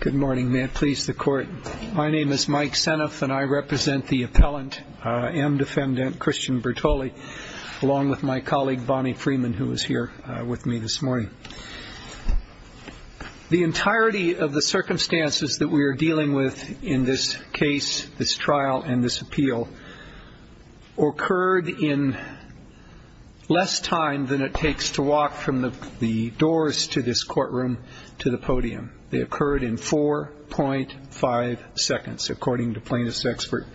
Good morning. May it please the court. My name is Mike Seneff, and I represent the appellant, M. Defendant Christian Bertoli, along with my colleague, Bonnie Freeman, who is here with me this morning. The entirety of the circumstances that we are dealing with in this case, this trial, and this appeal occurred in less time than it takes to walk from the doors to this courtroom to the podium. They occurred in 4.5 seconds, according to plaintiff's expert.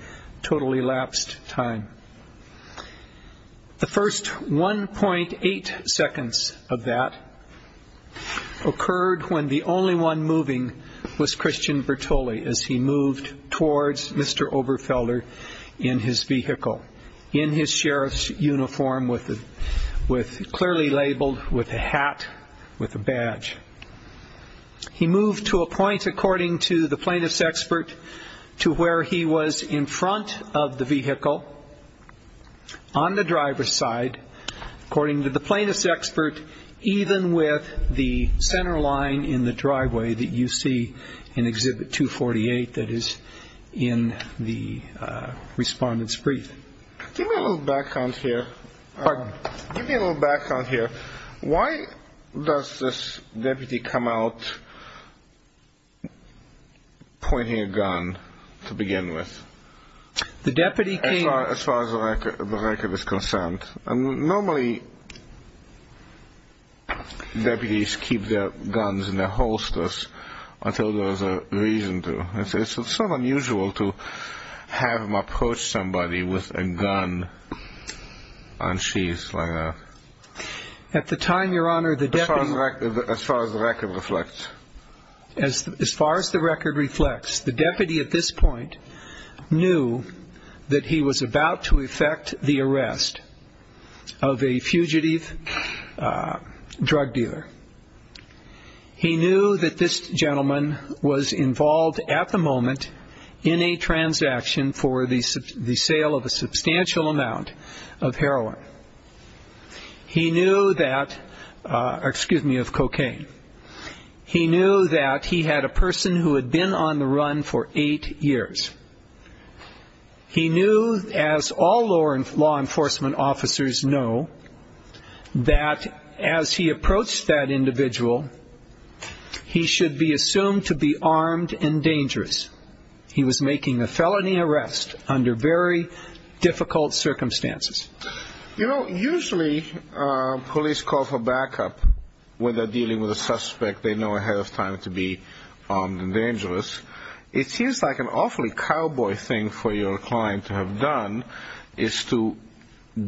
Totally lapsed time. The first 1.8 seconds of that occurred when the only one moving was Christian Bertoli as he moved towards Mr. Oberfelder in his vehicle, in his sheriff's uniform, clearly labeled with a hat, with a badge. He moved to a point, according to the plaintiff's expert, to where he was in front of the vehicle, on the driver's side, according to the plaintiff's expert, even with the center line in the driveway that you see in Exhibit 248 that is in the respondent's brief. Give me a little background here. Why does this deputy come out pointing a gun to begin with, as far as the record is concerned? Normally, deputies keep their guns in their holsters until there is a reason to. It's sort of unusual to have them approach somebody with a gun on sheath like that. As far as the record reflects, the deputy at this point knew that he was about to effect the arrest of a fugitive drug dealer. He knew that this gentleman was involved at the moment in a transaction for the sale of a substantial amount of heroin. He knew that, excuse me, of cocaine. He knew that he had a person who had been on the run for eight years. He knew, as all law enforcement officers know, that as he approached that individual, he should be assumed to be armed and dangerous. He was making a felony arrest under very difficult circumstances. You know, usually police call for backup when they're dealing with a suspect they know ahead of time to be armed and dangerous. It seems like an awfully cowboy thing for your client to have done is to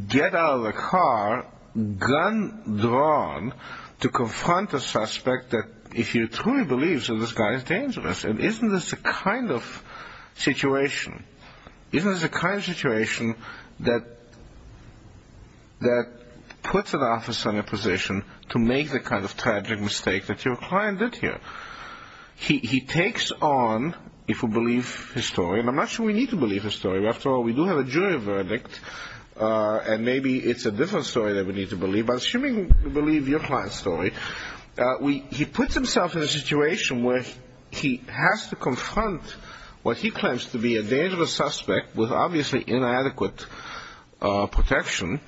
get out of the car, gun drawn, to confront a suspect that if you truly believe that this guy is dangerous. And isn't this the kind of situation that puts an officer in a position to make the kind of tragic mistake that your client did here? He takes on, if we believe his story, and I'm not sure we need to believe his story. After all, we do have a jury verdict, and maybe it's a different story that we need to believe. But assuming we believe your client's story, he puts himself in a situation where he has to confront what he claims to be a dangerous suspect with obviously inadequate protection,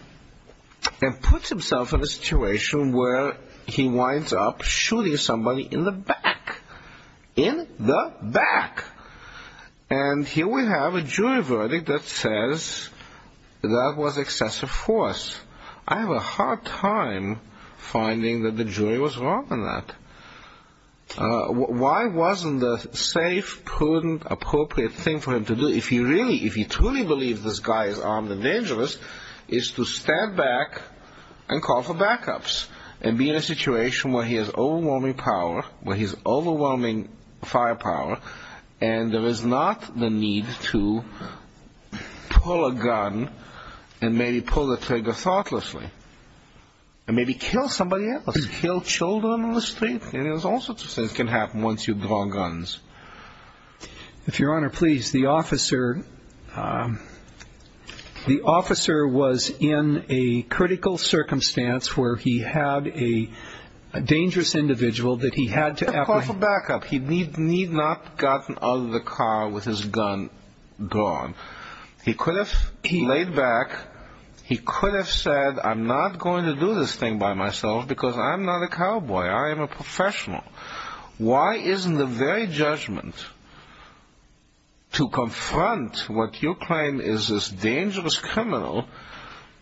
and puts himself in a situation where he winds up shooting somebody in the back. In the back! And here we have a jury verdict that says that was excessive force. I have a hard time finding that the jury was wrong on that. Why wasn't the safe, prudent, appropriate thing for him to do, if you truly believe this guy is armed and dangerous, is to stand back and call for backups and be in a situation where he has overwhelming power, where he has overwhelming firepower, and there is not the need to pull a gun and maybe pull the trigger thoughtlessly. And maybe kill somebody else. Kill children on the street. All sorts of things can happen once you draw guns. If your honor, please, the officer was in a critical circumstance where he had a dangerous individual that he had to... He needed backup. He need not have gotten out of the car with his gun drawn. He could have laid back. He could have said, I'm not going to do this thing by myself because I'm not a cowboy. I am a professional. Why isn't the very judgment to confront what you claim is this dangerous criminal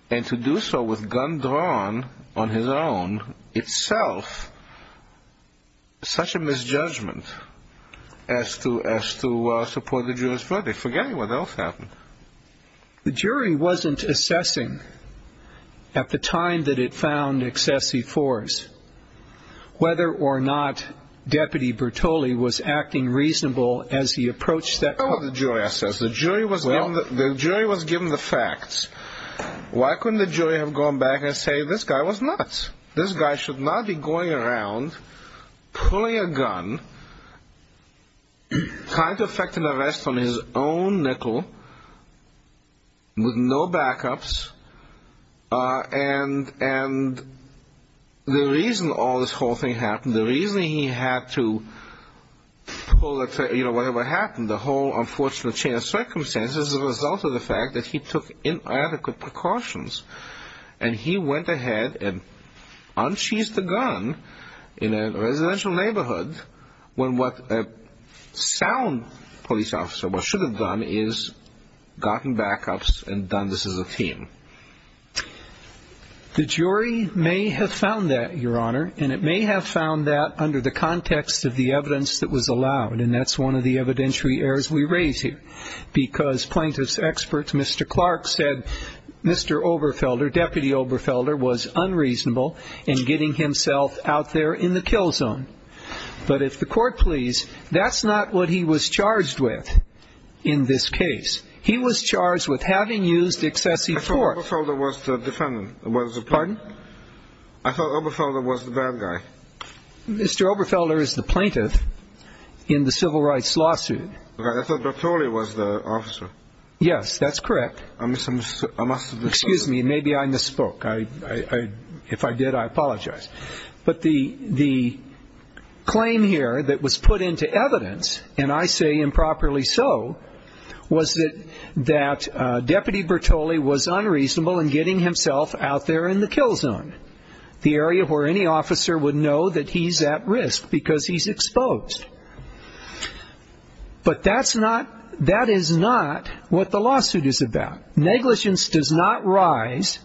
and to do so with gun drawn on his own, itself, such a misjudgment as to support the jury's verdict? Forgetting what else happened. The jury wasn't assessing, at the time that it found Excessi Force, whether or not Deputy Bertoli was acting reasonable as he approached that... With no backups. And the reason all this whole thing happened, the reason he had to pull the trigger, whatever happened, the whole unfortunate chain of circumstances is the result of the fact that he took inadequate precautions. And he went ahead and unsheathed the gun in a residential neighborhood when what a sound police officer should have done is gotten backups and done this as a team. The jury may have found that, Your Honor, and it may have found that under the context of the evidence that was allowed. And that's one of the evidentiary errors we raise here. Because plaintiff's experts, Mr. Clark, said Mr. Oberfelder, Deputy Oberfelder, was unreasonable in getting himself out there in the kill zone. But if the court please, that's not what he was charged with in this case. He was charged with having used Excessi Force. I thought Oberfelder was the defendant. Pardon? I thought Oberfelder was the bad guy. Mr. Oberfelder is the plaintiff in the civil rights lawsuit. I thought Bertoli was the officer. Yes, that's correct. I must have misunderstood. Excuse me, maybe I misspoke. If I did, I apologize. But the claim here that was put into evidence, and I say improperly so, was that Deputy Bertoli was unreasonable in getting himself out there in the kill zone. The area where any officer would know that he's at risk because he's exposed. But that's not, that is not what the lawsuit is about. Negligence does not rise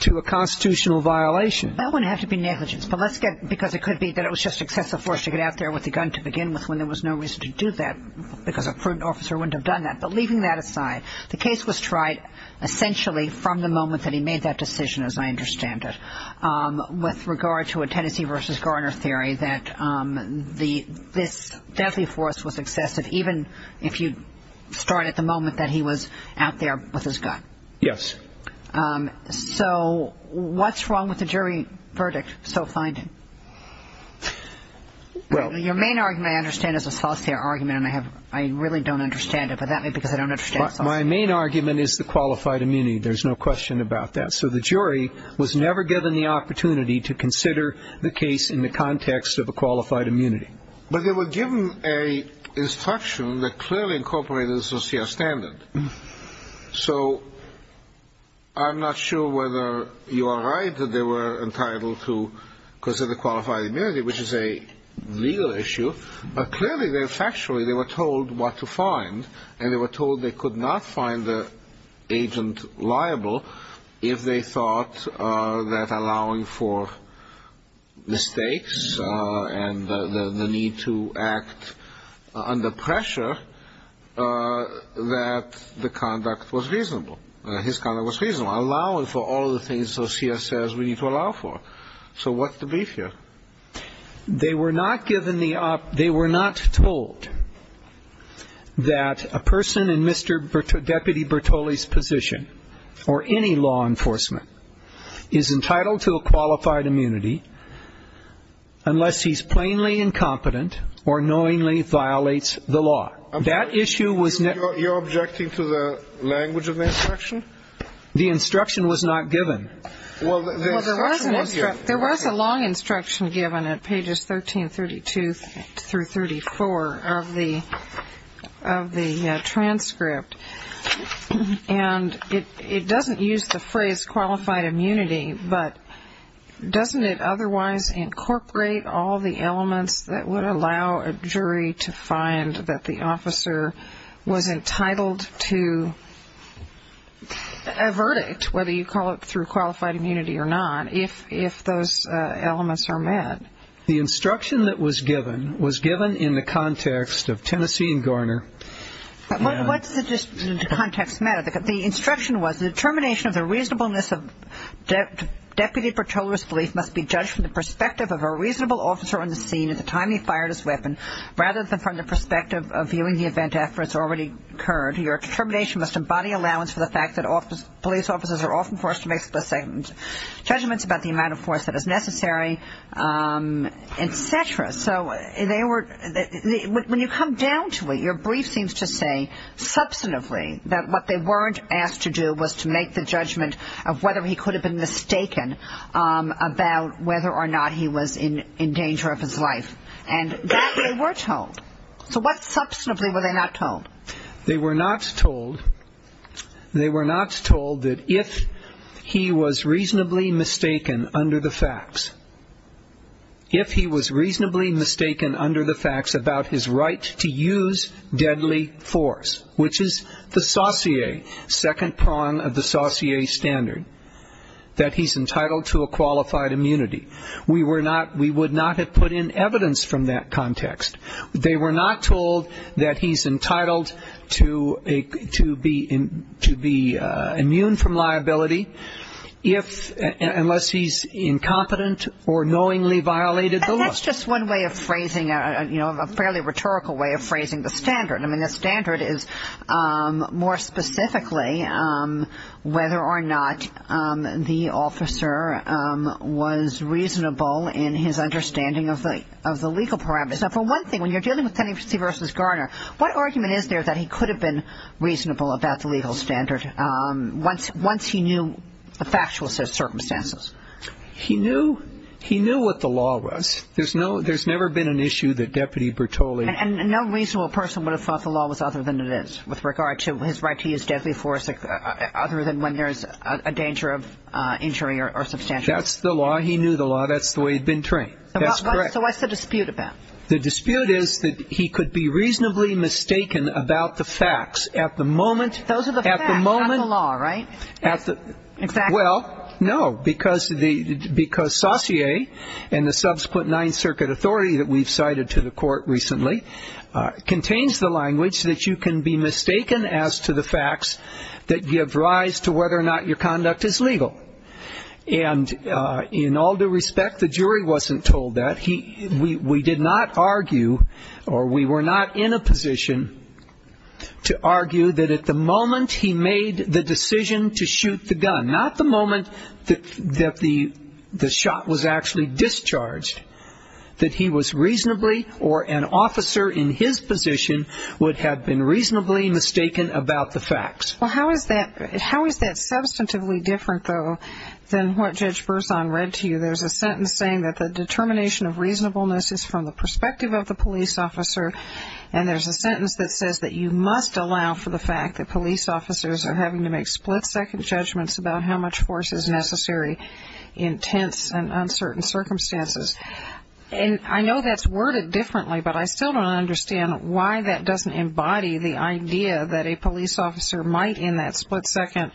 to a constitutional violation. That wouldn't have to be negligence, but let's get, because it could be that it was just Excessi Force to get out there with the gun to begin with, when there was no reason to do that, because a prudent officer wouldn't have done that. But leaving that aside, the case was tried essentially from the moment that he made that decision, as I understand it, with regard to a Tennessee v. Garner theory that this Deathly Force was excessive, even if you start at the moment that he was out there with his gun. Yes. So what's wrong with the jury verdict, so finding? Well, your main argument, I understand, is a saucier argument, and I have, I really don't understand it, but that may be because I don't understand. My main argument is the qualified immunity. There's no question about that. So the jury was never given the opportunity to consider the case in the context of a qualified immunity. But they were given a instruction that clearly incorporated a saucier standard. So I'm not sure whether you are right that they were entitled to consider the qualified immunity, which is a legal issue, but clearly factually they were told what to find, and they were told they could not find the agent liable if they thought that allowing for mistakes and the need to act under pressure, that the conduct was reasonable, his conduct was reasonable, allowing for all the things the CS says we need to allow for. So what's the beef here? They were not given the, they were not told that a person in Mr. Deputy Bertolli's position or any law enforcement is entitled to a qualified immunity unless he's plainly incompetent or knowingly violates the law. That issue was never. You're objecting to the language of the instruction? The instruction was not given. Well, the instruction was given. There was a long instruction given at pages 1332 through 34 of the transcript, and it doesn't use the phrase qualified immunity, but doesn't it otherwise incorporate all the elements that would allow a jury to find that the officer was entitled to a verdict, whether you call it through qualified immunity or not, if those elements are met? The instruction that was given was given in the context of Tennessee and Garner. What's the context matter? The instruction was the determination of the reasonableness of Deputy Bertolli's belief must be judged from the perspective of a reasonable officer on the scene at the time he fired his weapon, rather than from the perspective of viewing the event after it's already occurred. Your determination must embody allowance for the fact that police officers are often forced to make specific judgments about the amount of force that is necessary, et cetera. So when you come down to it, your brief seems to say substantively that what they weren't asked to do was to make the judgment of whether he could have been mistaken about whether or not he was in danger of his life, and that they were told. So what substantively were they not told? They were not told that if he was reasonably mistaken under the facts, if he was reasonably mistaken under the facts about his right to use deadly force, which is the saucier, second prong of the saucier standard, that he's entitled to a qualified immunity. We would not have put in evidence from that context. They were not told that he's entitled to be immune from liability unless he's incompetent or knowingly violated the law. And that's just one way of phrasing, you know, a fairly rhetorical way of phrasing the standard. I mean, the standard is more specifically whether or not the officer was reasonable in his understanding of the legal parameters. Now, for one thing, when you're dealing with Tennessee v. Garner, what argument is there that he could have been reasonable about the legal standard once he knew the factual circumstances? He knew what the law was. There's never been an issue that Deputy Bertoli... And no reasonable person would have thought the law was other than it is with regard to his right to use deadly force other than when there's a danger of injury or substantial injury. That's the law. He knew the law. That's the way he'd been trained. That's correct. So what's the dispute about? The dispute is that he could be reasonably mistaken about the facts at the moment... Those are the facts, not the law, right? Well, no, because Saussure and the subsequent Ninth Circuit authority that we've cited to the court recently contains the language that you can be mistaken as to the facts that give rise to whether or not your conduct is legal. And in all due respect, the jury wasn't told that. We did not argue or we were not in a position to argue that at the moment he made the decision to shoot the gun, not the moment that the shot was actually discharged, that he was reasonably or an officer in his position would have been reasonably mistaken about the facts. Well, how is that substantively different, though, than what Judge Berzon read to you? There's a sentence saying that the determination of reasonableness is from the perspective of the police officer, and there's a sentence that says that you must allow for the fact that police officers are having to make split-second judgments about how much force is necessary in tense and uncertain circumstances. And I know that's worded differently, but I still don't understand why that doesn't embody the idea that a police officer might, in that split second,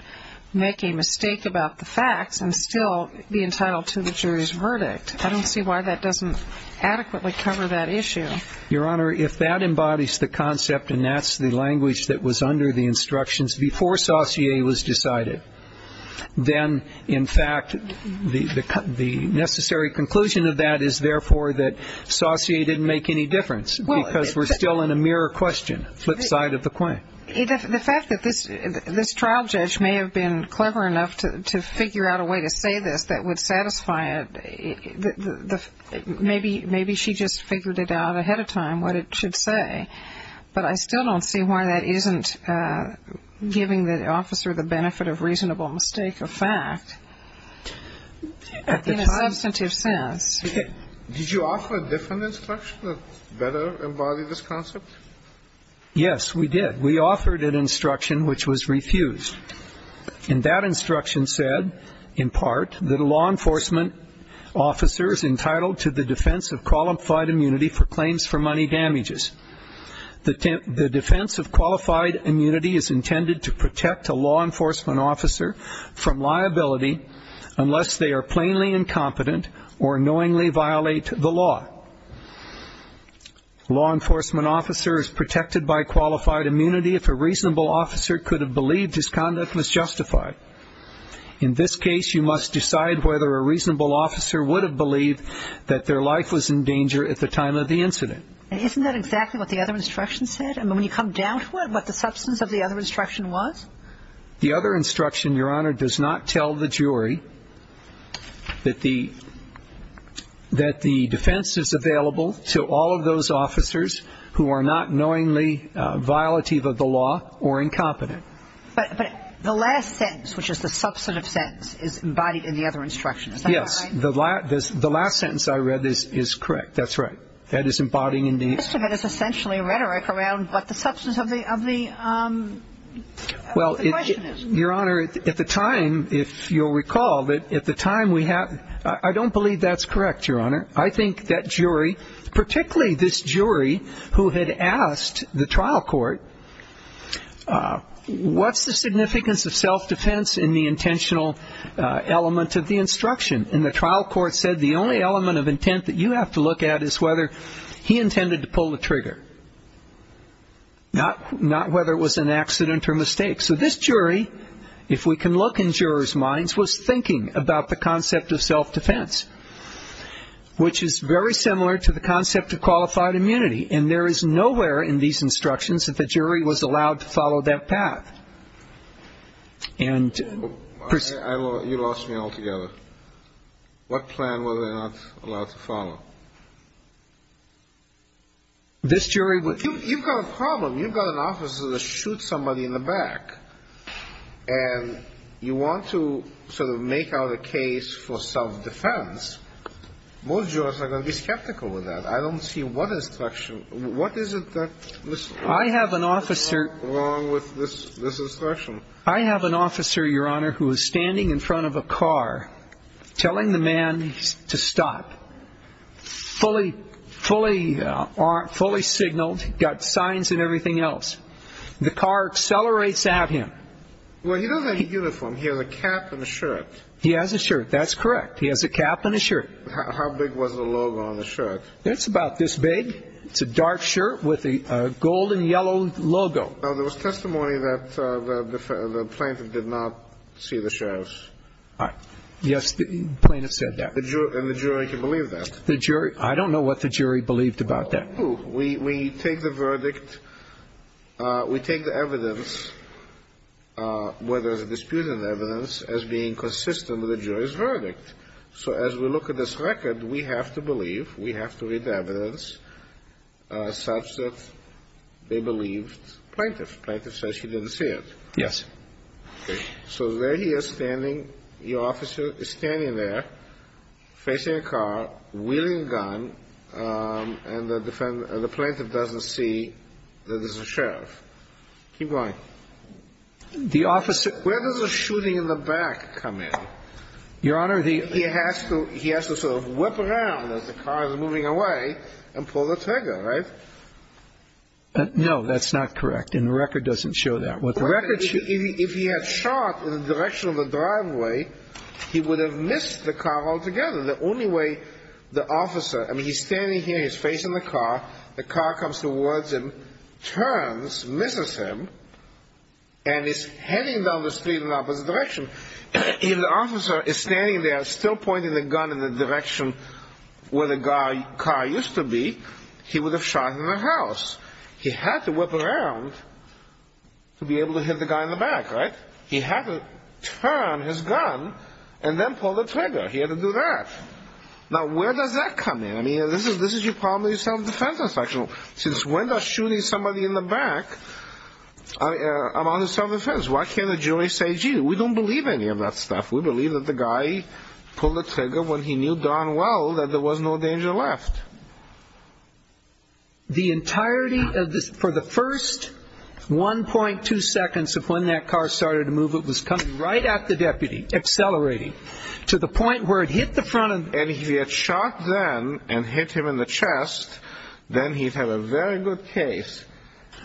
make a mistake about the facts and still be entitled to the jury's verdict. I don't see why that doesn't adequately cover that issue. Your Honor, if that embodies the concept and that's the language that was under the instructions before Saussure was decided, then, in fact, the necessary conclusion of that is, therefore, that Saussure didn't make any difference because we're still in a mirror question, flip side of the coin. The fact that this trial judge may have been clever enough to figure out a way to say this that would satisfy it, maybe she just figured it out ahead of time what it should say, but I still don't see why that isn't giving the officer the benefit of reasonable mistake of fact in a substantive sense. Did you offer a different instruction that better embodied this concept? Yes, we did. We offered an instruction which was refused. And that instruction said, in part, that a law enforcement officer is entitled to the defense of qualified immunity for claims for money damages. The defense of qualified immunity is intended to protect a law enforcement officer from liability unless they are plainly incompetent or knowingly violate the law. A law enforcement officer is protected by qualified immunity if a reasonable officer could have believed his conduct was justified. In this case, you must decide whether a reasonable officer would have believed that their life was in danger at the time of the incident. And isn't that exactly what the other instruction said? I mean, when you come down to it, what the substance of the other instruction was? The other instruction, Your Honor, does not tell the jury that the defense of qualified immunity is available to all of those officers who are not knowingly violative of the law or incompetent. But the last sentence, which is the substantive sentence, is embodied in the other instruction. Is that right? Yes. The last sentence I read is correct. That's right. That is embodying, indeed. Most of it is essentially rhetoric around what the substance of the question is. Well, Your Honor, at the time, if you'll recall, at the time we had – I don't believe that's correct, Your Honor. I think that jury, particularly this jury who had asked the trial court, what's the significance of self-defense in the intentional element of the instruction? And the trial court said the only element of intent that you have to look at is whether he intended to pull the trigger, not whether it was an accident or mistake. So this jury, if we can look in jurors' minds, was thinking about the concept of self-defense, which is very similar to the concept of qualified immunity. And there is nowhere in these instructions that the jury was allowed to follow that path. And – You lost me altogether. What plan were they not allowed to follow? This jury – If you've got a problem, you've got an officer that shoots somebody in the back, and you want to sort of make out a case for self-defense, most jurors are going to be skeptical of that. I don't see what instruction – what is it that – I have an officer – What is wrong with this instruction? I have an officer, Your Honor, who is standing in front of a car telling the man to stop, fully signaled, got signs and everything else. The car accelerates at him. Well, he doesn't have a uniform. He has a cap and a shirt. He has a shirt. That's correct. He has a cap and a shirt. How big was the logo on the shirt? It's about this big. It's a dark shirt with a golden yellow logo. Now, there was testimony that the plaintiff did not see the sheriff. Yes, the plaintiff said that. And the jury can believe that? I don't know what the jury believed about that. We take the verdict – we take the evidence, whether there's a dispute in the evidence, as being consistent with the jury's verdict. So as we look at this record, we have to believe, we have to read the evidence, such that they believed the plaintiff. The plaintiff says he didn't see it. Yes. So there he is standing, your officer is standing there, facing a car, wielding a gun, and the plaintiff doesn't see that there's a sheriff. Keep going. The officer – Where does the shooting in the back come in? Your Honor, the – He has to sort of whip around as the car is moving away and pull the trigger, right? No, that's not correct, and the record doesn't show that. If he had shot in the direction of the driveway, he would have missed the car altogether. The only way the officer – I mean, he's standing here, he's facing the car, the car comes towards him, turns, misses him, and is heading down the street in the opposite direction. If the officer is standing there still pointing the gun in the direction where the car used to be, he would have shot in the house. He had to whip around to be able to hit the guy in the back, right? He had to turn his gun and then pull the trigger. He had to do that. Now, where does that come in? I mean, this is your problem with the self-defense section. Since when does shooting somebody in the back amount to self-defense? Why can't the jury say, gee, we don't believe any of that stuff? We believe that the guy pulled the trigger when he knew darn well that there was no danger left. The entirety of this – for the first 1.2 seconds of when that car started to move, it was coming right at the deputy, accelerating, to the point where it hit the front of – And if he had shot then and hit him in the chest, then he'd have a very good case.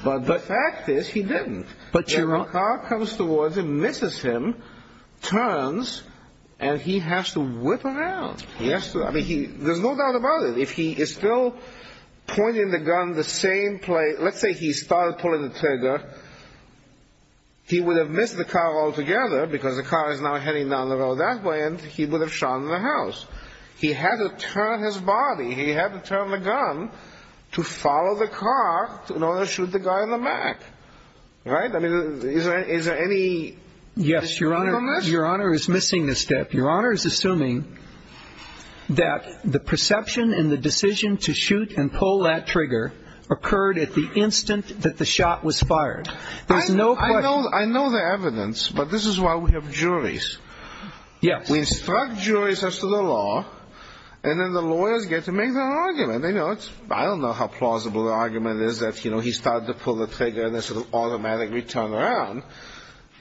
But the fact is, he didn't. But your – The car comes towards him, misses him, turns, and he has to whip around. He has to – I mean, there's no doubt about it. If he is still pointing the gun the same place – let's say he started pulling the trigger, he would have missed the car altogether because the car is now heading down the road that way, and he would have shot in the house. He had to turn his body. He had to turn the gun to follow the car in order to shoot the guy in the back. Right? I mean, is there any dispute on this? Yes, Your Honor. Your Honor is missing this step. Your Honor is assuming that the perception and the decision to shoot and pull that trigger occurred at the instant that the shot was fired. There's no question – I know the evidence, but this is why we have juries. Yes. We instruct juries as to the law, and then the lawyers get to make their argument. They know it's – I don't know how plausible the argument is that, you know, he started to pull the trigger and then sort of automatically turned around.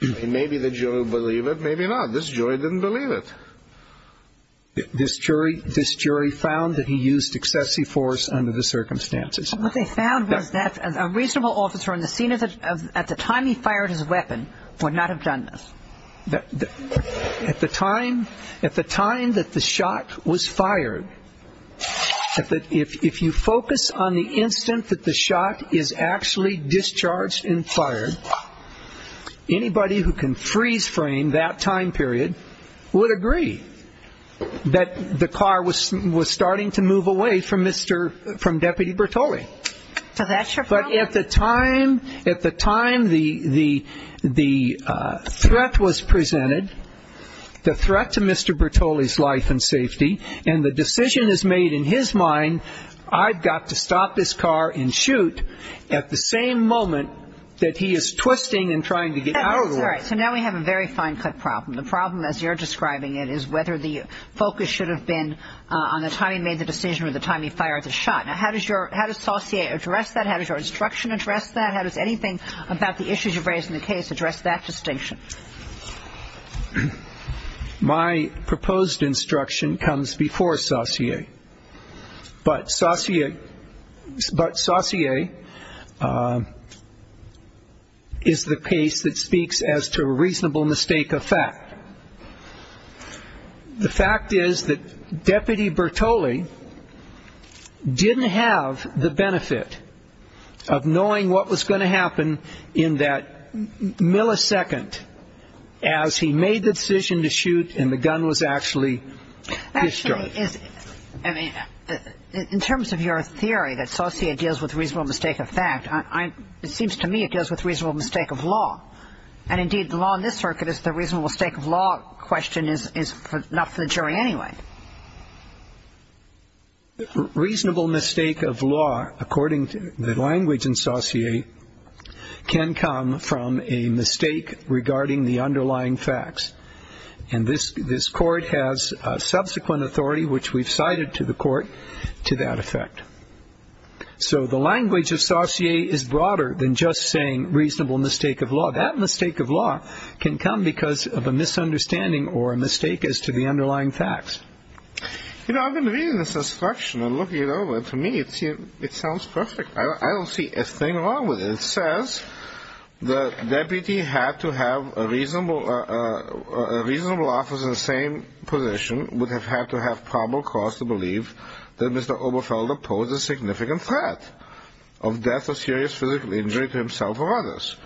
Maybe the jury will believe it. Maybe not. This jury didn't believe it. This jury found that he used excessive force under the circumstances. What they found was that a reasonable officer on the scene at the time he fired his weapon would not have done this. At the time – at the time that the shot was fired, if you focus on the instant that the shot is actually discharged and fired, anybody who can freeze frame that time period would agree that the car was starting to move away from Mr. – from Deputy Bertoli. So that's your problem? But at the time – at the time the threat was presented, the threat to Mr. Bertoli's life and safety, and the decision is made in his mind, I've got to stop this car and shoot at the same moment that he is twisting and trying to get out of the way. All right. So now we have a very fine-cut problem. The problem, as you're describing it, is whether the focus should have been on the time he made the decision or the time he fired the shot. Now, how does your – how does Saussure address that? How does your instruction address that? How does anything about the issues you've raised in the case address that distinction? My proposed instruction comes before Saussure, but Saussure is the case that speaks as to a reasonable mistake of fact. The fact is that Deputy Bertoli didn't have the benefit of knowing what was going to happen in that millisecond as he made the decision to shoot and the gun was actually destroyed. In terms of your theory that Saussure deals with reasonable mistake of fact, it seems to me it deals with reasonable mistake of law. And, indeed, the law in this circuit is the reasonable mistake of law question is not for the jury anyway. Reasonable mistake of law, according to the language in Saussure, can come from a mistake regarding the underlying facts. And this court has subsequent authority, which we've cited to the court, to that effect. So the language of Saussure is broader than just saying reasonable mistake of law. That mistake of law can come because of a misunderstanding or a mistake as to the underlying facts. You know, I've been reading this instruction and looking it over, and to me it sounds perfect. I don't see a thing wrong with it. It says the deputy had to have a reasonable office in the same position, would have had to have probable cause to believe that Mr. Oberfelder posed a significant threat of death or serious physical injury to himself or others.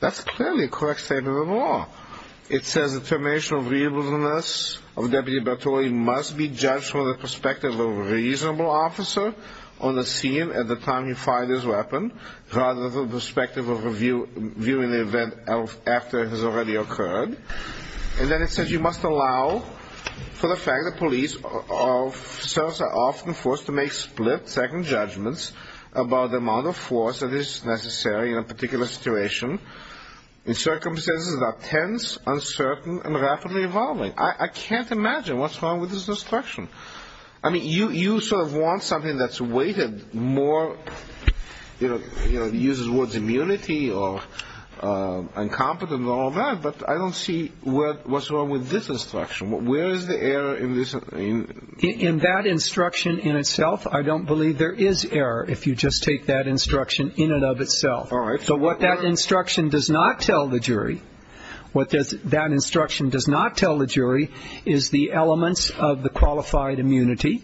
That's clearly a correct statement of the law. It says the information of reasonableness of Deputy Bertori must be judged from the perspective of a reasonable officer on the scene at the time he fired his weapon, rather than the perspective of viewing the event after it has already occurred. And then it says you must allow for the fact that police officers are often forced to make split-second judgments about the amount of force that is necessary in a particular situation. In circumstances that are tense, uncertain, and rapidly evolving. I can't imagine what's wrong with this instruction. I mean, you sort of want something that's weighted more, you know, uses the words immunity or incompetent and all that, but I don't see what's wrong with this instruction. Where is the error in this? In that instruction in itself, I don't believe there is error if you just take that instruction in and of itself. So what that instruction does not tell the jury, what that instruction does not tell the jury is the elements of the qualified immunity,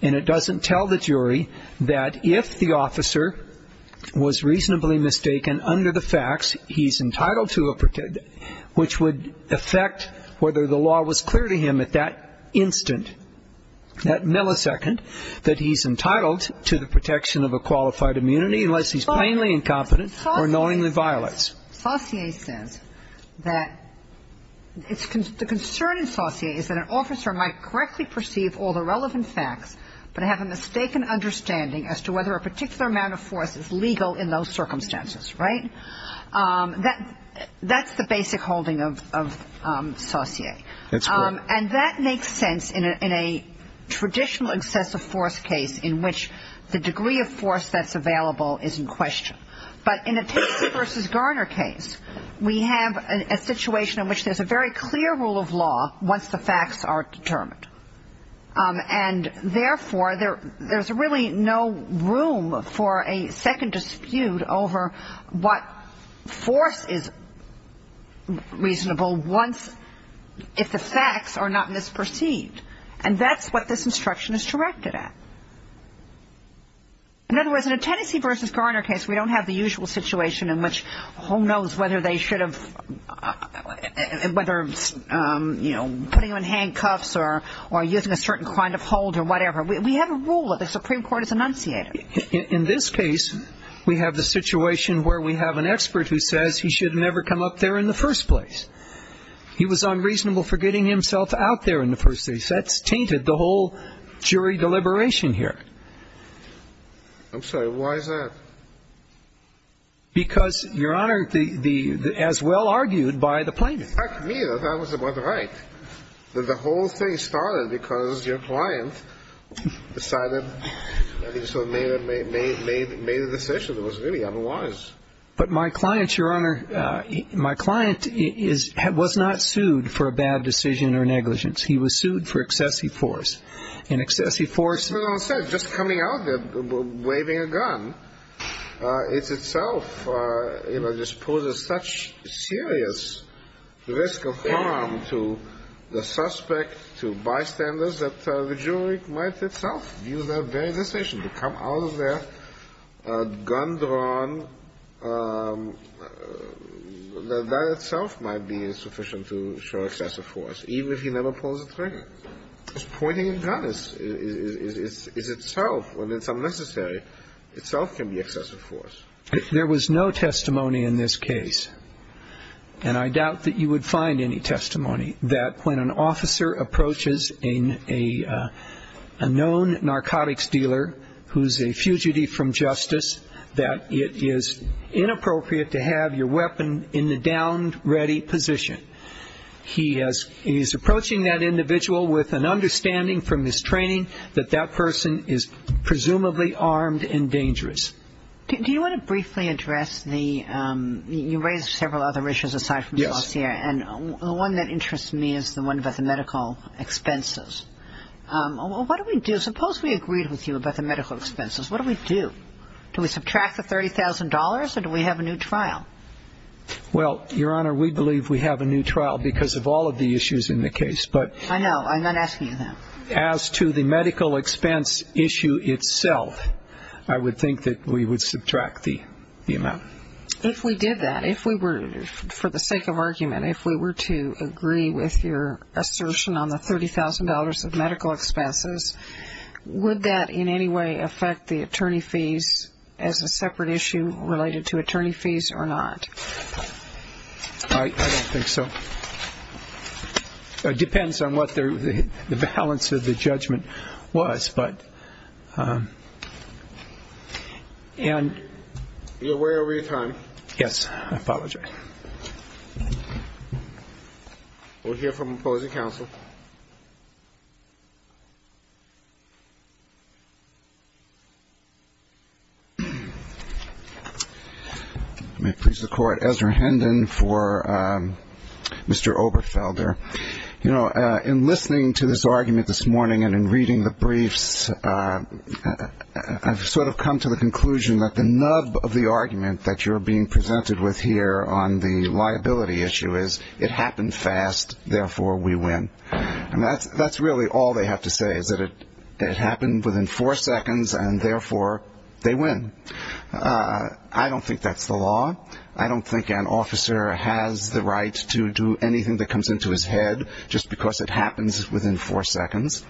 and it doesn't tell the jury that if the officer was reasonably mistaken under the facts, he's entitled to a protection, which would affect whether the law was clear to him at that instant, that millisecond that he's entitled to the protection of a qualified immunity unless he's plainly incompetent or knowingly violates. Kagan. Saussure says that the concern in Saussure is that an officer might correctly perceive all the relevant facts, but have a mistaken understanding as to whether a particular amount of force is legal in those circumstances, right? That's the basic holding of Saussure. That's correct. And that makes sense in a traditional excessive force case in which the degree of force that's available is in question. But in a Casey v. Garner case, we have a situation in which there's a very clear rule of law once the facts are determined. And, therefore, there's really no room for a second dispute over what force is reasonable if the facts are not misperceived. And that's what this instruction is directed at. In other words, in a Tennessee v. Garner case, we don't have the usual situation in which who knows whether they should have, whether, you know, putting on handcuffs or using a certain kind of hold or whatever. We have a rule that the Supreme Court has enunciated. In this case, we have the situation where we have an expert who says he should have never come up there in the first place. He was unreasonable for getting himself out there in the first place. That's tainted the whole jury deliberation here. I'm sorry. Why is that? Because, Your Honor, as well argued by the plaintiff. In fact, to me, that was about right. The whole thing started because your client decided, I think so, made a decision that was really unwise. But my client, Your Honor, my client was not sued for a bad decision or negligence. He was sued for excessive force. And excessive force. That's what I said. Just coming out there waving a gun, it itself, you know, just poses such serious risk of harm to the suspect, to bystanders that the jury might itself view that very decision to come out of there with a gun drawn, that itself might be insufficient to show excessive force, even if he never pulls the trigger. Just pointing a gun is itself, when it's unnecessary, itself can be excessive force. There was no testimony in this case, and I doubt that you would find any testimony, that when an officer approaches a known narcotics dealer who's a fugitive from justice, that it is inappropriate to have your weapon in the downed ready position. He is approaching that individual with an understanding from his training that that person is presumably armed and dangerous. Do you want to briefly address the you raised several other issues aside from the dossier, and the one that interests me is the one about the medical expenses. What do we do? Suppose we agreed with you about the medical expenses. What do we do? Do we subtract the $30,000, or do we have a new trial? Well, Your Honor, we believe we have a new trial because of all of the issues in the case. I know. I'm not asking you that. As to the medical expense issue itself, I would think that we would subtract the amount. If we did that, if we were, for the sake of argument, if we were to agree with your assertion on the $30,000 of medical expenses, would that in any way affect the attorney fees as a separate issue related to attorney fees or not? I don't think so. It depends on what the balance of the judgment was. You're way over your time. Yes. I apologize. We'll hear from opposing counsel. Let me please the Court. Ezra Hendon for Mr. Oberfelder. You know, in listening to this argument this morning and in reading the briefs, I've sort of come to the conclusion that the nub of the argument that you're being presented with here on the liability issue is it happened fast, therefore we win. And that's really all they have to say, is that it happened within four seconds, and therefore they win. I don't think that's the law. I don't think an officer has the right to do anything that comes into his head just because it happens within four seconds.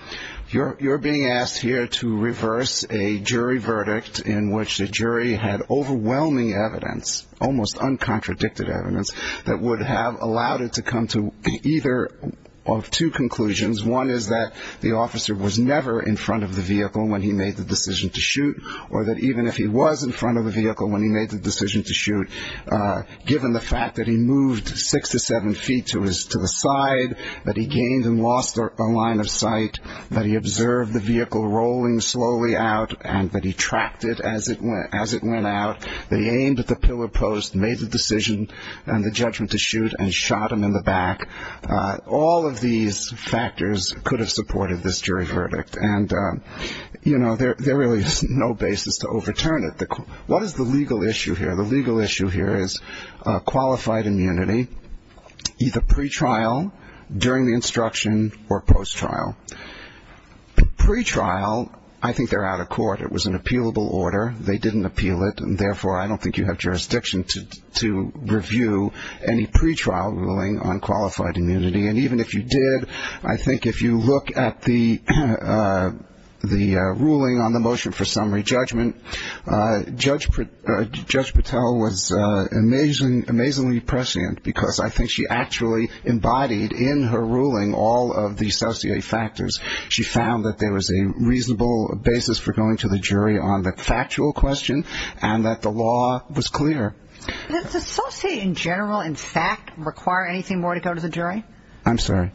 You're being asked here to reverse a jury verdict in which the jury had overwhelming evidence, almost uncontradicted evidence, that would have allowed it to come to either of two conclusions. One is that the officer was never in front of the vehicle when he made the decision to shoot, or that even if he was in front of the vehicle when he made the decision to shoot, given the fact that he moved six to seven feet to the side, that he gained and lost a line of sight, that he observed the vehicle rolling slowly out and that he tracked it as it went out, that he aimed at the pillar post, made the decision and the judgment to shoot, and shot him in the back. All of these factors could have supported this jury verdict. There really is no basis to overturn it. What is the legal issue here? The legal issue here is qualified immunity, either pre-trial, during the instruction, or post-trial. Pre-trial, I think they're out of court. It was an appealable order. They didn't appeal it, and therefore I don't think you have jurisdiction to review any pre-trial ruling on qualified immunity. And even if you did, I think if you look at the ruling on the motion for summary judgment, Judge Patel was amazingly prescient because I think she actually embodied in her ruling all of the associated factors. She found that there was a reasonable basis for going to the jury on the factual question and that the law was clear. Does the society in general in fact require anything more to go to the jury? I'm sorry?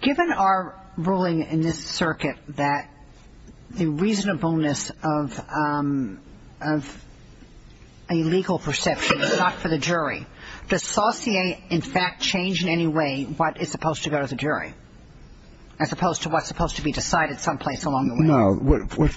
Given our ruling in this circuit that the reasonableness of a legal perception is not for the jury, does society in fact change in any way what is supposed to go to the jury, as opposed to what's supposed to be decided someplace along the way? No.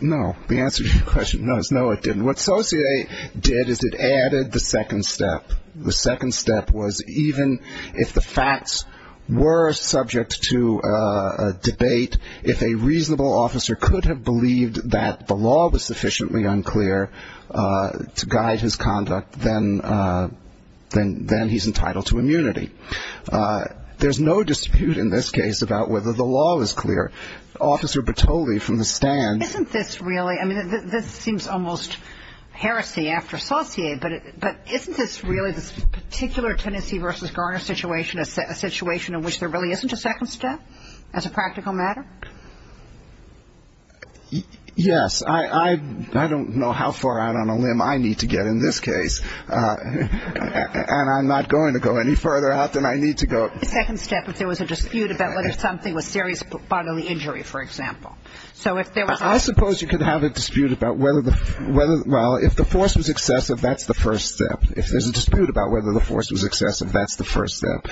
No. The answer to your question is no, it didn't. What society did is it added the second step. The second step was even if the facts were subject to debate, if a reasonable officer could have believed that the law was sufficiently unclear to guide his conduct, then he's entitled to immunity. There's no dispute in this case about whether the law was clear. Officer Bertolli from the stand. Isn't this really, I mean, this seems almost heresy after Saucier, but isn't this really this particular Tennessee v. Garner situation a situation in which there really isn't a second step as a practical matter? Yes. I don't know how far out on a limb I need to get in this case. And I'm not going to go any further out than I need to go. A second step if there was a dispute about whether something was serious bodily injury, for example. I suppose you could have a dispute about whether the, well, if the force was excessive, that's the first step. If there's a dispute about whether the force was excessive, that's the first step.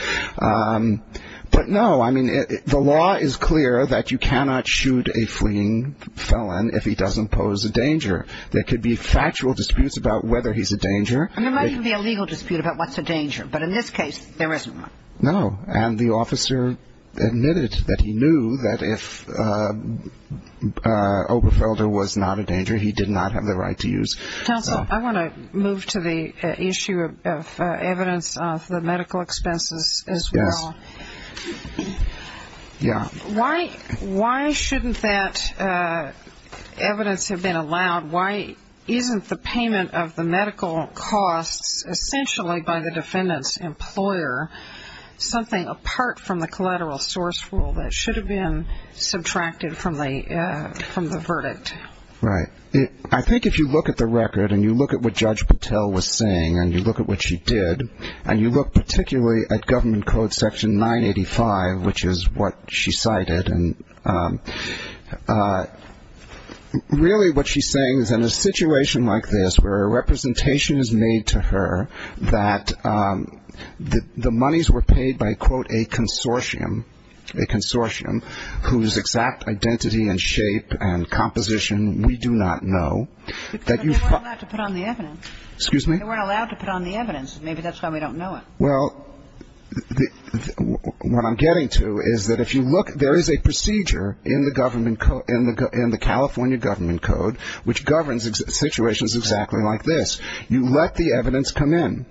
But no, I mean, the law is clear that you cannot shoot a fleeing felon if he doesn't pose a danger. There could be factual disputes about whether he's a danger. And there might even be a legal dispute about what's a danger. But in this case, there isn't one. No. And the officer admitted that he knew that if Oberfelder was not a danger, he did not have the right to use. Counsel, I want to move to the issue of evidence of the medical expenses as well. Yes. Why shouldn't that evidence have been allowed? Why isn't the payment of the medical costs essentially by the defendant's employer something apart from the collateral source rule that should have been subtracted from the verdict? Right. I think if you look at the record and you look at what Judge Patel was saying and you look at what she did, and you look particularly at Government Code Section 985, which is what she cited, and really what she's saying is in a situation like this where a representation is made to her that the monies were paid by, quote, a consortium, a consortium whose exact identity and shape and composition we do not know, that you find the evidence. But they weren't allowed to put on the evidence. Excuse me? They weren't allowed to put on the evidence. Maybe that's why we don't know it. Well, what I'm getting to is that if you look, there is a procedure in the California Government Code, which governs situations exactly like this. You let the evidence come in.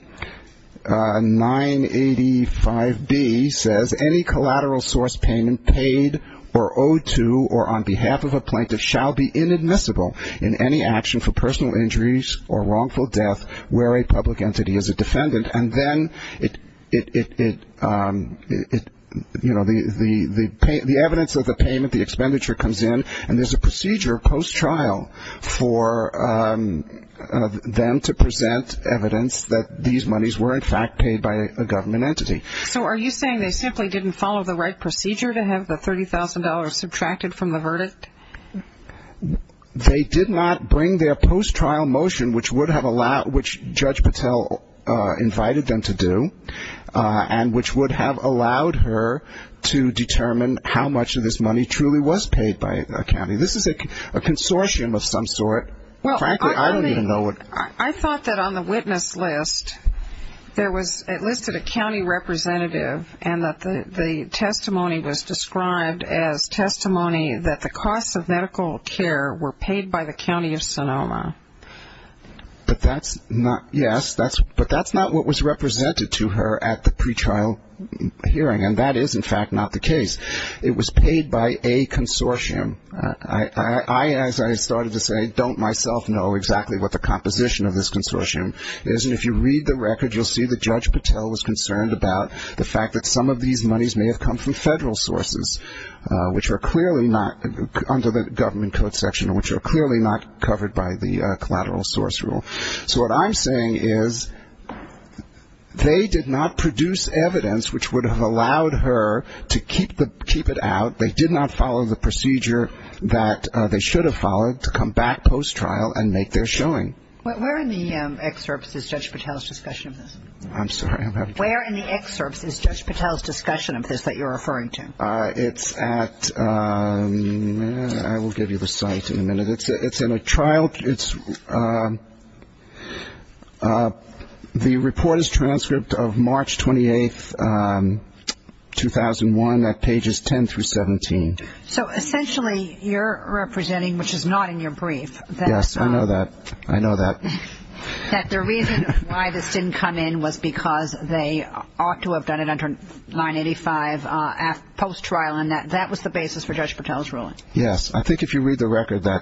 985B says any collateral source payment paid or owed to or on behalf of a plaintiff shall be inadmissible in any action for It, you know, the evidence of the payment, the expenditure comes in, and there's a procedure post-trial for them to present evidence that these monies were, in fact, paid by a government entity. So are you saying they simply didn't follow the right procedure to have the $30,000 subtracted from the verdict? They did not bring their post-trial motion, which would have allowed ‑‑ which Judge Patel invited them to do, and which would have allowed her to determine how much of this money truly was paid by a county. This is a consortium of some sort. Frankly, I don't even know what ‑‑ Well, I thought that on the witness list there was ‑‑ it listed a county representative and that the testimony was described as testimony that the costs of medical care were paid by the county of Sonoma. But that's not ‑‑ yes, but that's not what was represented to her at the pre-trial hearing, and that is, in fact, not the case. It was paid by a consortium. I, as I started to say, don't myself know exactly what the composition of this consortium is, and if you read the record, you'll see that Judge Patel was concerned about the fact that some of these monies may have come from federal sources, which are clearly not under the government code section, which are clearly not covered by the collateral source rule. So what I'm saying is they did not produce evidence which would have allowed her to keep it out. They did not follow the procedure that they should have followed to come back post-trial and make their showing. Where in the excerpts is Judge Patel's discussion of this? I'm sorry. Where in the excerpts is Judge Patel's discussion of this that you're referring to? It's at ‑‑ I will give you the site in a minute. It's in a trial ‑‑ the report is transcript of March 28th, 2001 at pages 10 through 17. So essentially you're representing, which is not in your brief. Yes, I know that. I know that. That the reason why this didn't come in was because they ought to have done it under 985 post-trial, and that was the basis for Judge Patel's ruling. Yes. I think if you read the record, I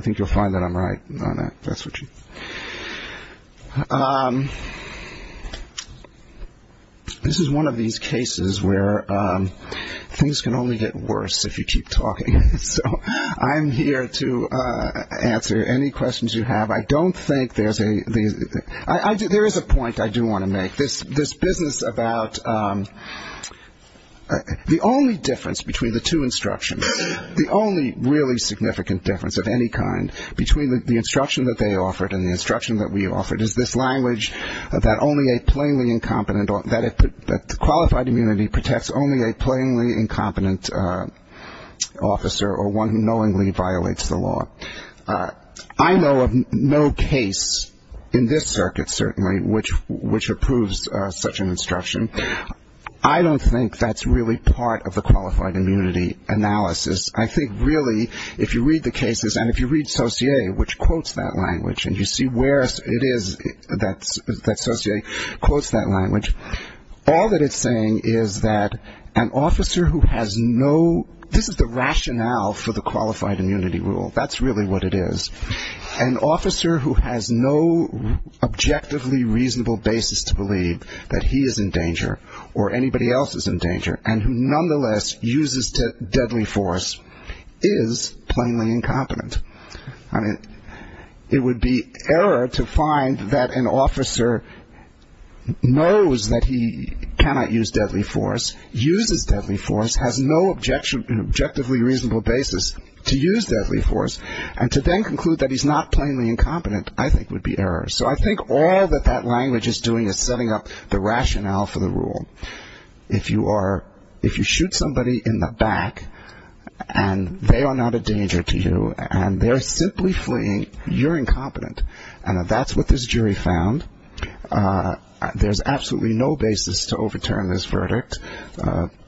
think you'll find that I'm right on that. That's what you ‑‑ this is one of these cases where things can only get worse if you keep talking. So I'm here to answer any questions you have. I don't think there's a ‑‑ there is a point I do want to make. This business about the only difference between the two instructions, the only really significant difference of any kind between the instruction that they offered and the instruction that we offered is this language that only a plainly incompetent, that qualified immunity protects only a plainly incompetent officer or one who knowingly violates the law. I know of no case in this circuit, certainly, which approves such an instruction. I don't think that's really part of the qualified immunity analysis. I think really if you read the cases and if you read Saussure, which quotes that language, and you see where it is that Saussure quotes that language, all that it's saying is that an officer who has no ‑‑ this is the rationale for the qualified immunity rule. That's really what it is. An officer who has no objectively reasonable basis to believe that he is in danger or anybody else is in danger and who nonetheless uses deadly force is plainly incompetent. I mean, it would be error to find that an officer knows that he cannot use deadly force, uses deadly force, has no objectively reasonable basis to use deadly force, and to then conclude that he's not plainly incompetent I think would be error. So I think all that that language is doing is setting up the rationale for the rule. If you are ‑‑ if you shoot somebody in the back and they are not a danger to you and they're simply fleeing, you're incompetent. And that's what this jury found. There's absolutely no basis to overturn this verdict.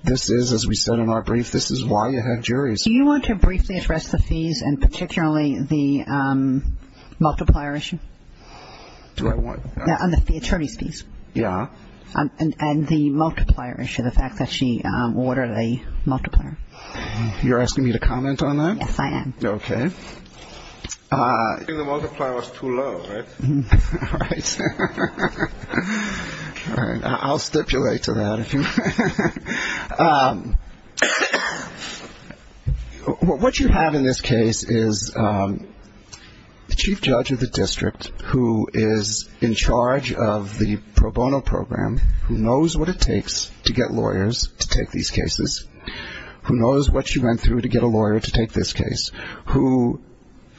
This is, as we said in our brief, this is why you have juries. Do you want to briefly address the fees and particularly the multiplier issue? Do I what? The attorney's fees. Yeah. And the multiplier issue, the fact that she ordered a multiplier. You're asking me to comment on that? Yes, I am. Okay. I think the multiplier was too low, right? All right. I'll stipulate to that if you want. What you have in this case is the chief judge of the district who is in charge of the pro bono program, who knows what it takes to get lawyers to take these cases, who knows what she went through to get a lawyer to take this case, who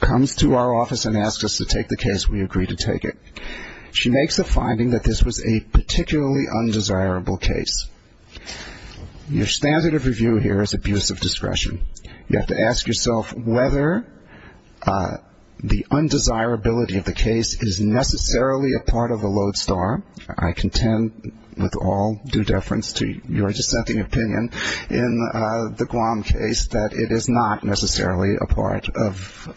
comes to our office and asks us to take the case, we agree to take it. She makes a finding that this was a particularly undesirable case. Your standard of review here is abuse of discretion. You have to ask yourself whether the undesirability of the case is necessarily a part of the lodestar. I contend with all due deference to your dissenting opinion. In the Guam case, that it is not necessarily a part of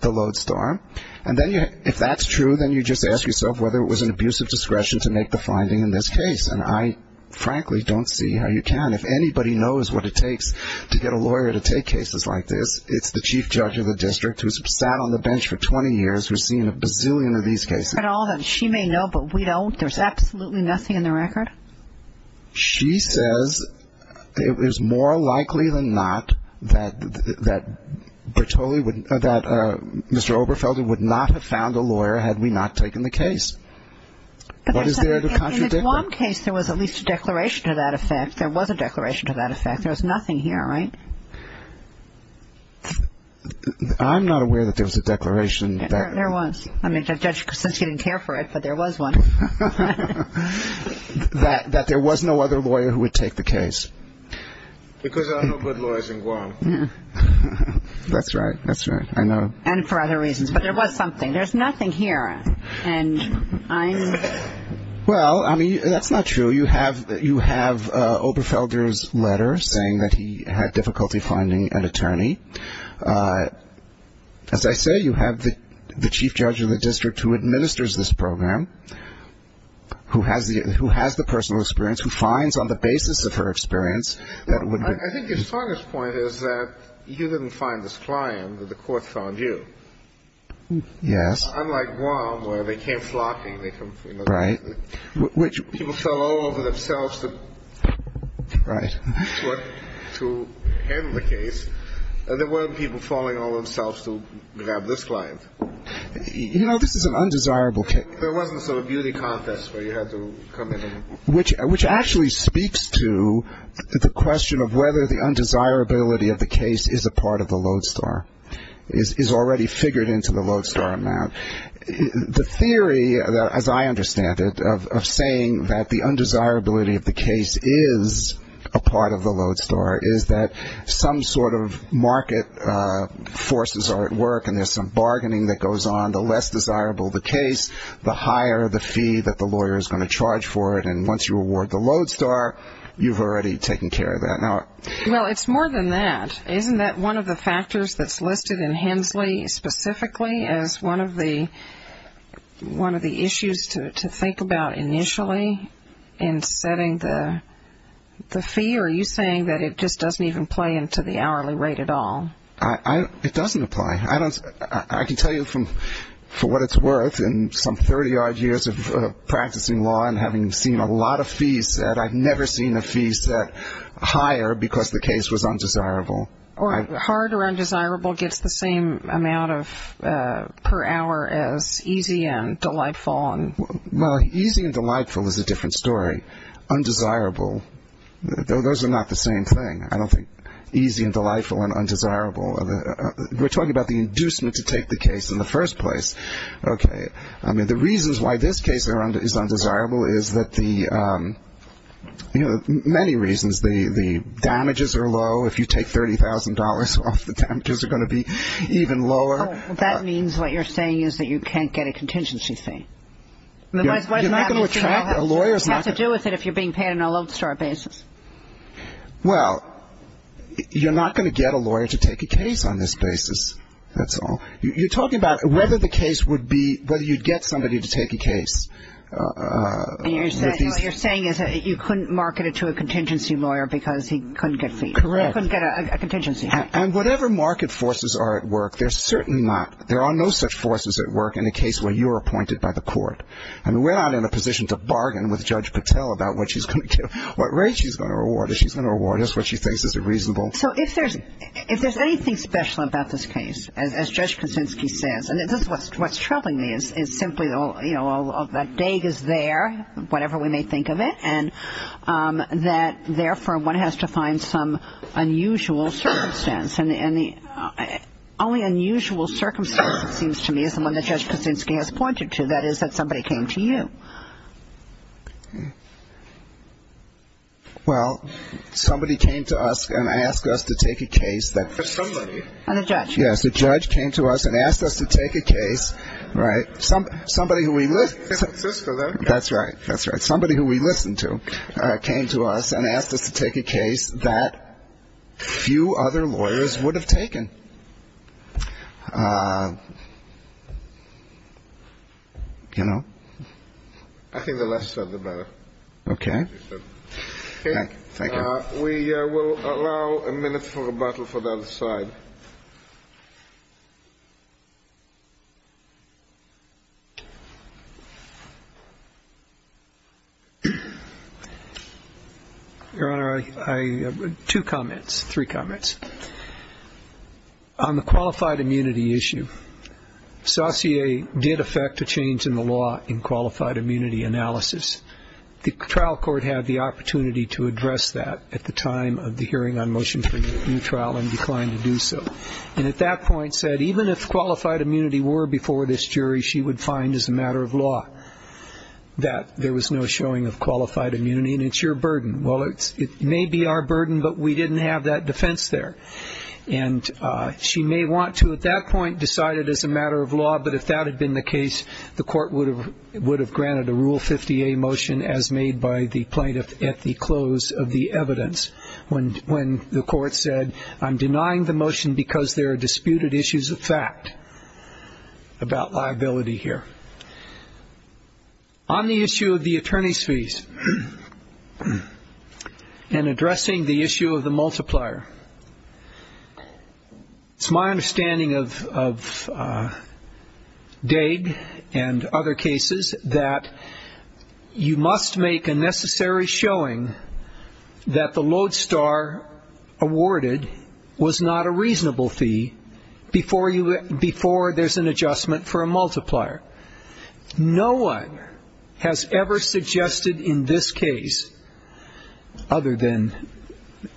the lodestar. And then if that's true, then you just ask yourself whether it was an abuse of discretion to make the finding in this case. And I frankly don't see how you can. If anybody knows what it takes to get a lawyer to take cases like this, it's the chief judge of the district who's sat on the bench for 20 years, who's seen a bazillion of these cases. She may know, but we don't? There's absolutely nothing in the record? She says it was more likely than not that Mr. Oberfelder would not have found a lawyer had we not taken the case. What is there to contradict that? In the Guam case, there was at least a declaration to that effect. There was a declaration to that effect. There was nothing here, right? I'm not aware that there was a declaration. There was. I mean, Judge Kosinski didn't care for it, but there was one. That there was no other lawyer who would take the case. Because there are no good lawyers in Guam. That's right. That's right. I know. And for other reasons. But there was something. There's nothing here. Well, I mean, that's not true. You have Oberfelder's letter saying that he had difficulty finding an attorney. As I say, you have the chief judge of the district who administers this program, who has the personal experience, who finds on the basis of her experience that it would be. I think your strongest point is that you didn't find this client. The court found you. Yes. Unlike Guam where they came flocking. Right. People fell all over themselves to handle the case. There weren't people falling all over themselves to grab this client. You know, this is an undesirable case. There wasn't a sort of beauty contest where you had to come in. Which actually speaks to the question of whether the undesirability of the case is a part of the lodestar, is already figured into the lodestar amount. The theory, as I understand it, of saying that the undesirability of the case is a part of the lodestar, is that some sort of market forces are at work and there's some bargaining that goes on. The less desirable the case, the higher the fee that the lawyer is going to charge for it. And once you award the lodestar, you've already taken care of that. Well, it's more than that. Isn't that one of the factors that's listed in Hensley specifically as one of the issues to think about initially in setting the fee? Are you saying that it just doesn't even play into the hourly rate at all? It doesn't apply. I can tell you for what it's worth, in some 30-odd years of practicing law and having seen a lot of fees set, I've never seen a fee set higher because the case was undesirable. Hard or undesirable gets the same amount per hour as easy and delightful. Well, easy and delightful is a different story. Undesirable, those are not the same thing. I don't think easy and delightful and undesirable. We're talking about the inducement to take the case in the first place. Okay. I mean, the reasons why this case is undesirable is that the, you know, many reasons. The damages are low. If you take $30,000 off the damages are going to be even lower. That means what you're saying is that you can't get a contingency fee. You're not going to attract a lawyer. What does that have to do with it if you're being paid on a lodestar basis? Well, you're not going to get a lawyer to take a case on this basis, that's all. You're talking about whether the case would be, whether you'd get somebody to take a case. What you're saying is that you couldn't market it to a contingency lawyer because he couldn't get a contingency. And whatever market forces are at work, they're certainly not. There are no such forces at work in a case where you're appointed by the court. I mean, we're not in a position to bargain with Judge Patel about what she's going to give, what rate she's going to reward us, what she thinks is reasonable. So if there's anything special about this case, as Judge Kuczynski says, and this is what's troubling me is simply, you know, that dag is there, whatever we may think of it, and that, therefore, one has to find some unusual circumstance. And the only unusual circumstance, it seems to me, is the one that Judge Kuczynski has pointed to, that is that somebody came to you. Well, somebody came to us and asked us to take a case that ‑‑ Somebody. And a judge. Yes. A judge came to us and asked us to take a case, right, somebody who we ‑‑ Sister, though. That's right. That's right. came to us and asked us to take a case that few other lawyers would have taken. You know? I think the less said, the better. Okay. Okay. Thank you. We will allow a minute for rebuttal for the other side. Your Honor, I have two comments, three comments. On the qualified immunity issue, Saussure did affect a change in the law in qualified immunity analysis. The trial court had the opportunity to address that at the time of the hearing on motion for a new trial and declined to do so. And at that point said even if qualified immunity were before this jury, she would find as a matter of law that there was no showing of qualified immunity and it's your burden. Well, it may be our burden, but we didn't have that defense there. And she may want to at that point decide it as a matter of law, but if that had been the case, the court would have granted a Rule 50A motion as made by the plaintiff at the close of the evidence when the court said, I'm denying the motion because there are disputed issues of fact about liability here. On the issue of the attorney's fees and addressing the issue of the multiplier, it's my understanding of Daig and other cases that you must make a necessary showing that the lodestar awarded was not a reasonable fee before there's an adjustment for a multiplier. No one has ever suggested in this case, other than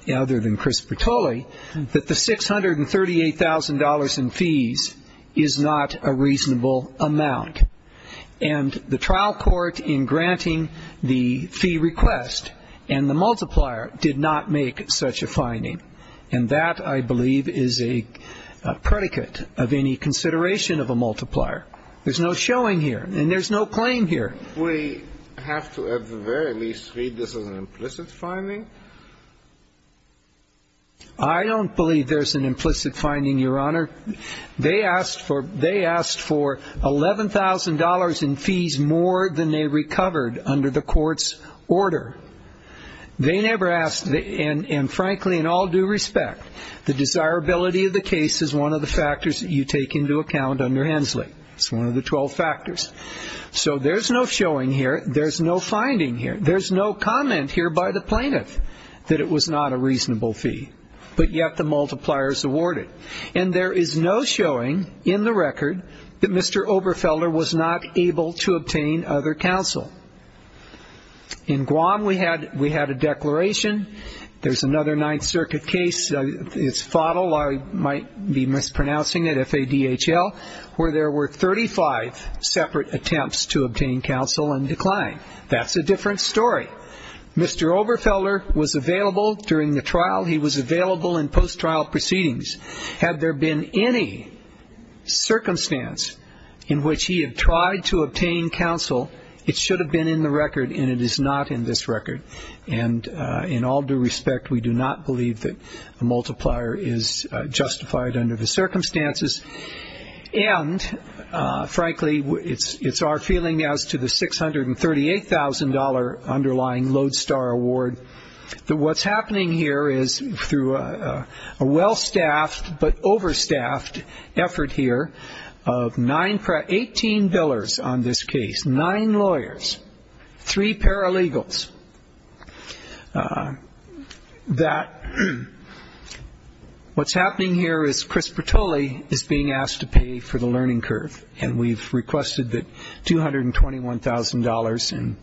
Chris Bertolli, that the $638,000 in fees is not a reasonable amount. And the trial court in granting the fee request and the multiplier did not make such a finding. And that, I believe, is a predicate of any consideration of a multiplier. There's no showing here. And there's no claim here. We have to, at the very least, read this as an implicit finding. I don't believe there's an implicit finding, Your Honor. They asked for $11,000 in fees more than they recovered under the court's order. They never asked, and frankly, in all due respect, the desirability of the case is one of the factors that you take into account under Hensley. It's one of the 12 factors. So there's no showing here. There's no finding here. There's no comment here by the plaintiff that it was not a reasonable fee, but yet the multiplier is awarded. And there is no showing in the record that Mr. Oberfelder was not able to obtain other counsel. In Guam, we had a declaration. There's another Ninth Circuit case. It's FODL, I might be mispronouncing it, F-A-D-H-L, where there were 35 separate attempts to obtain counsel and decline. That's a different story. Mr. Oberfelder was available during the trial. He was available in post-trial proceedings. Had there been any circumstance in which he had tried to obtain counsel, it should have been in the record, and it is not in this record. And in all due respect, we do not believe that a multiplier is justified under the circumstances. And, frankly, it's our feeling as to the $638,000 underlying Lodestar Award, that what's happening here is through a well-staffed but overstaffed effort here of 18 billers on this case, nine lawyers, three paralegals, that what's happening here is Chris Bertolli is being asked to pay for the learning curve. And we've requested that $221,000 and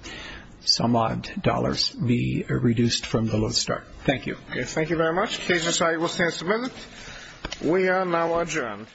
some odd dollars be reduced from the Lodestar. Thank you. Roberts. Thank you very much. The case in sight will stand submitted. We are now adjourned.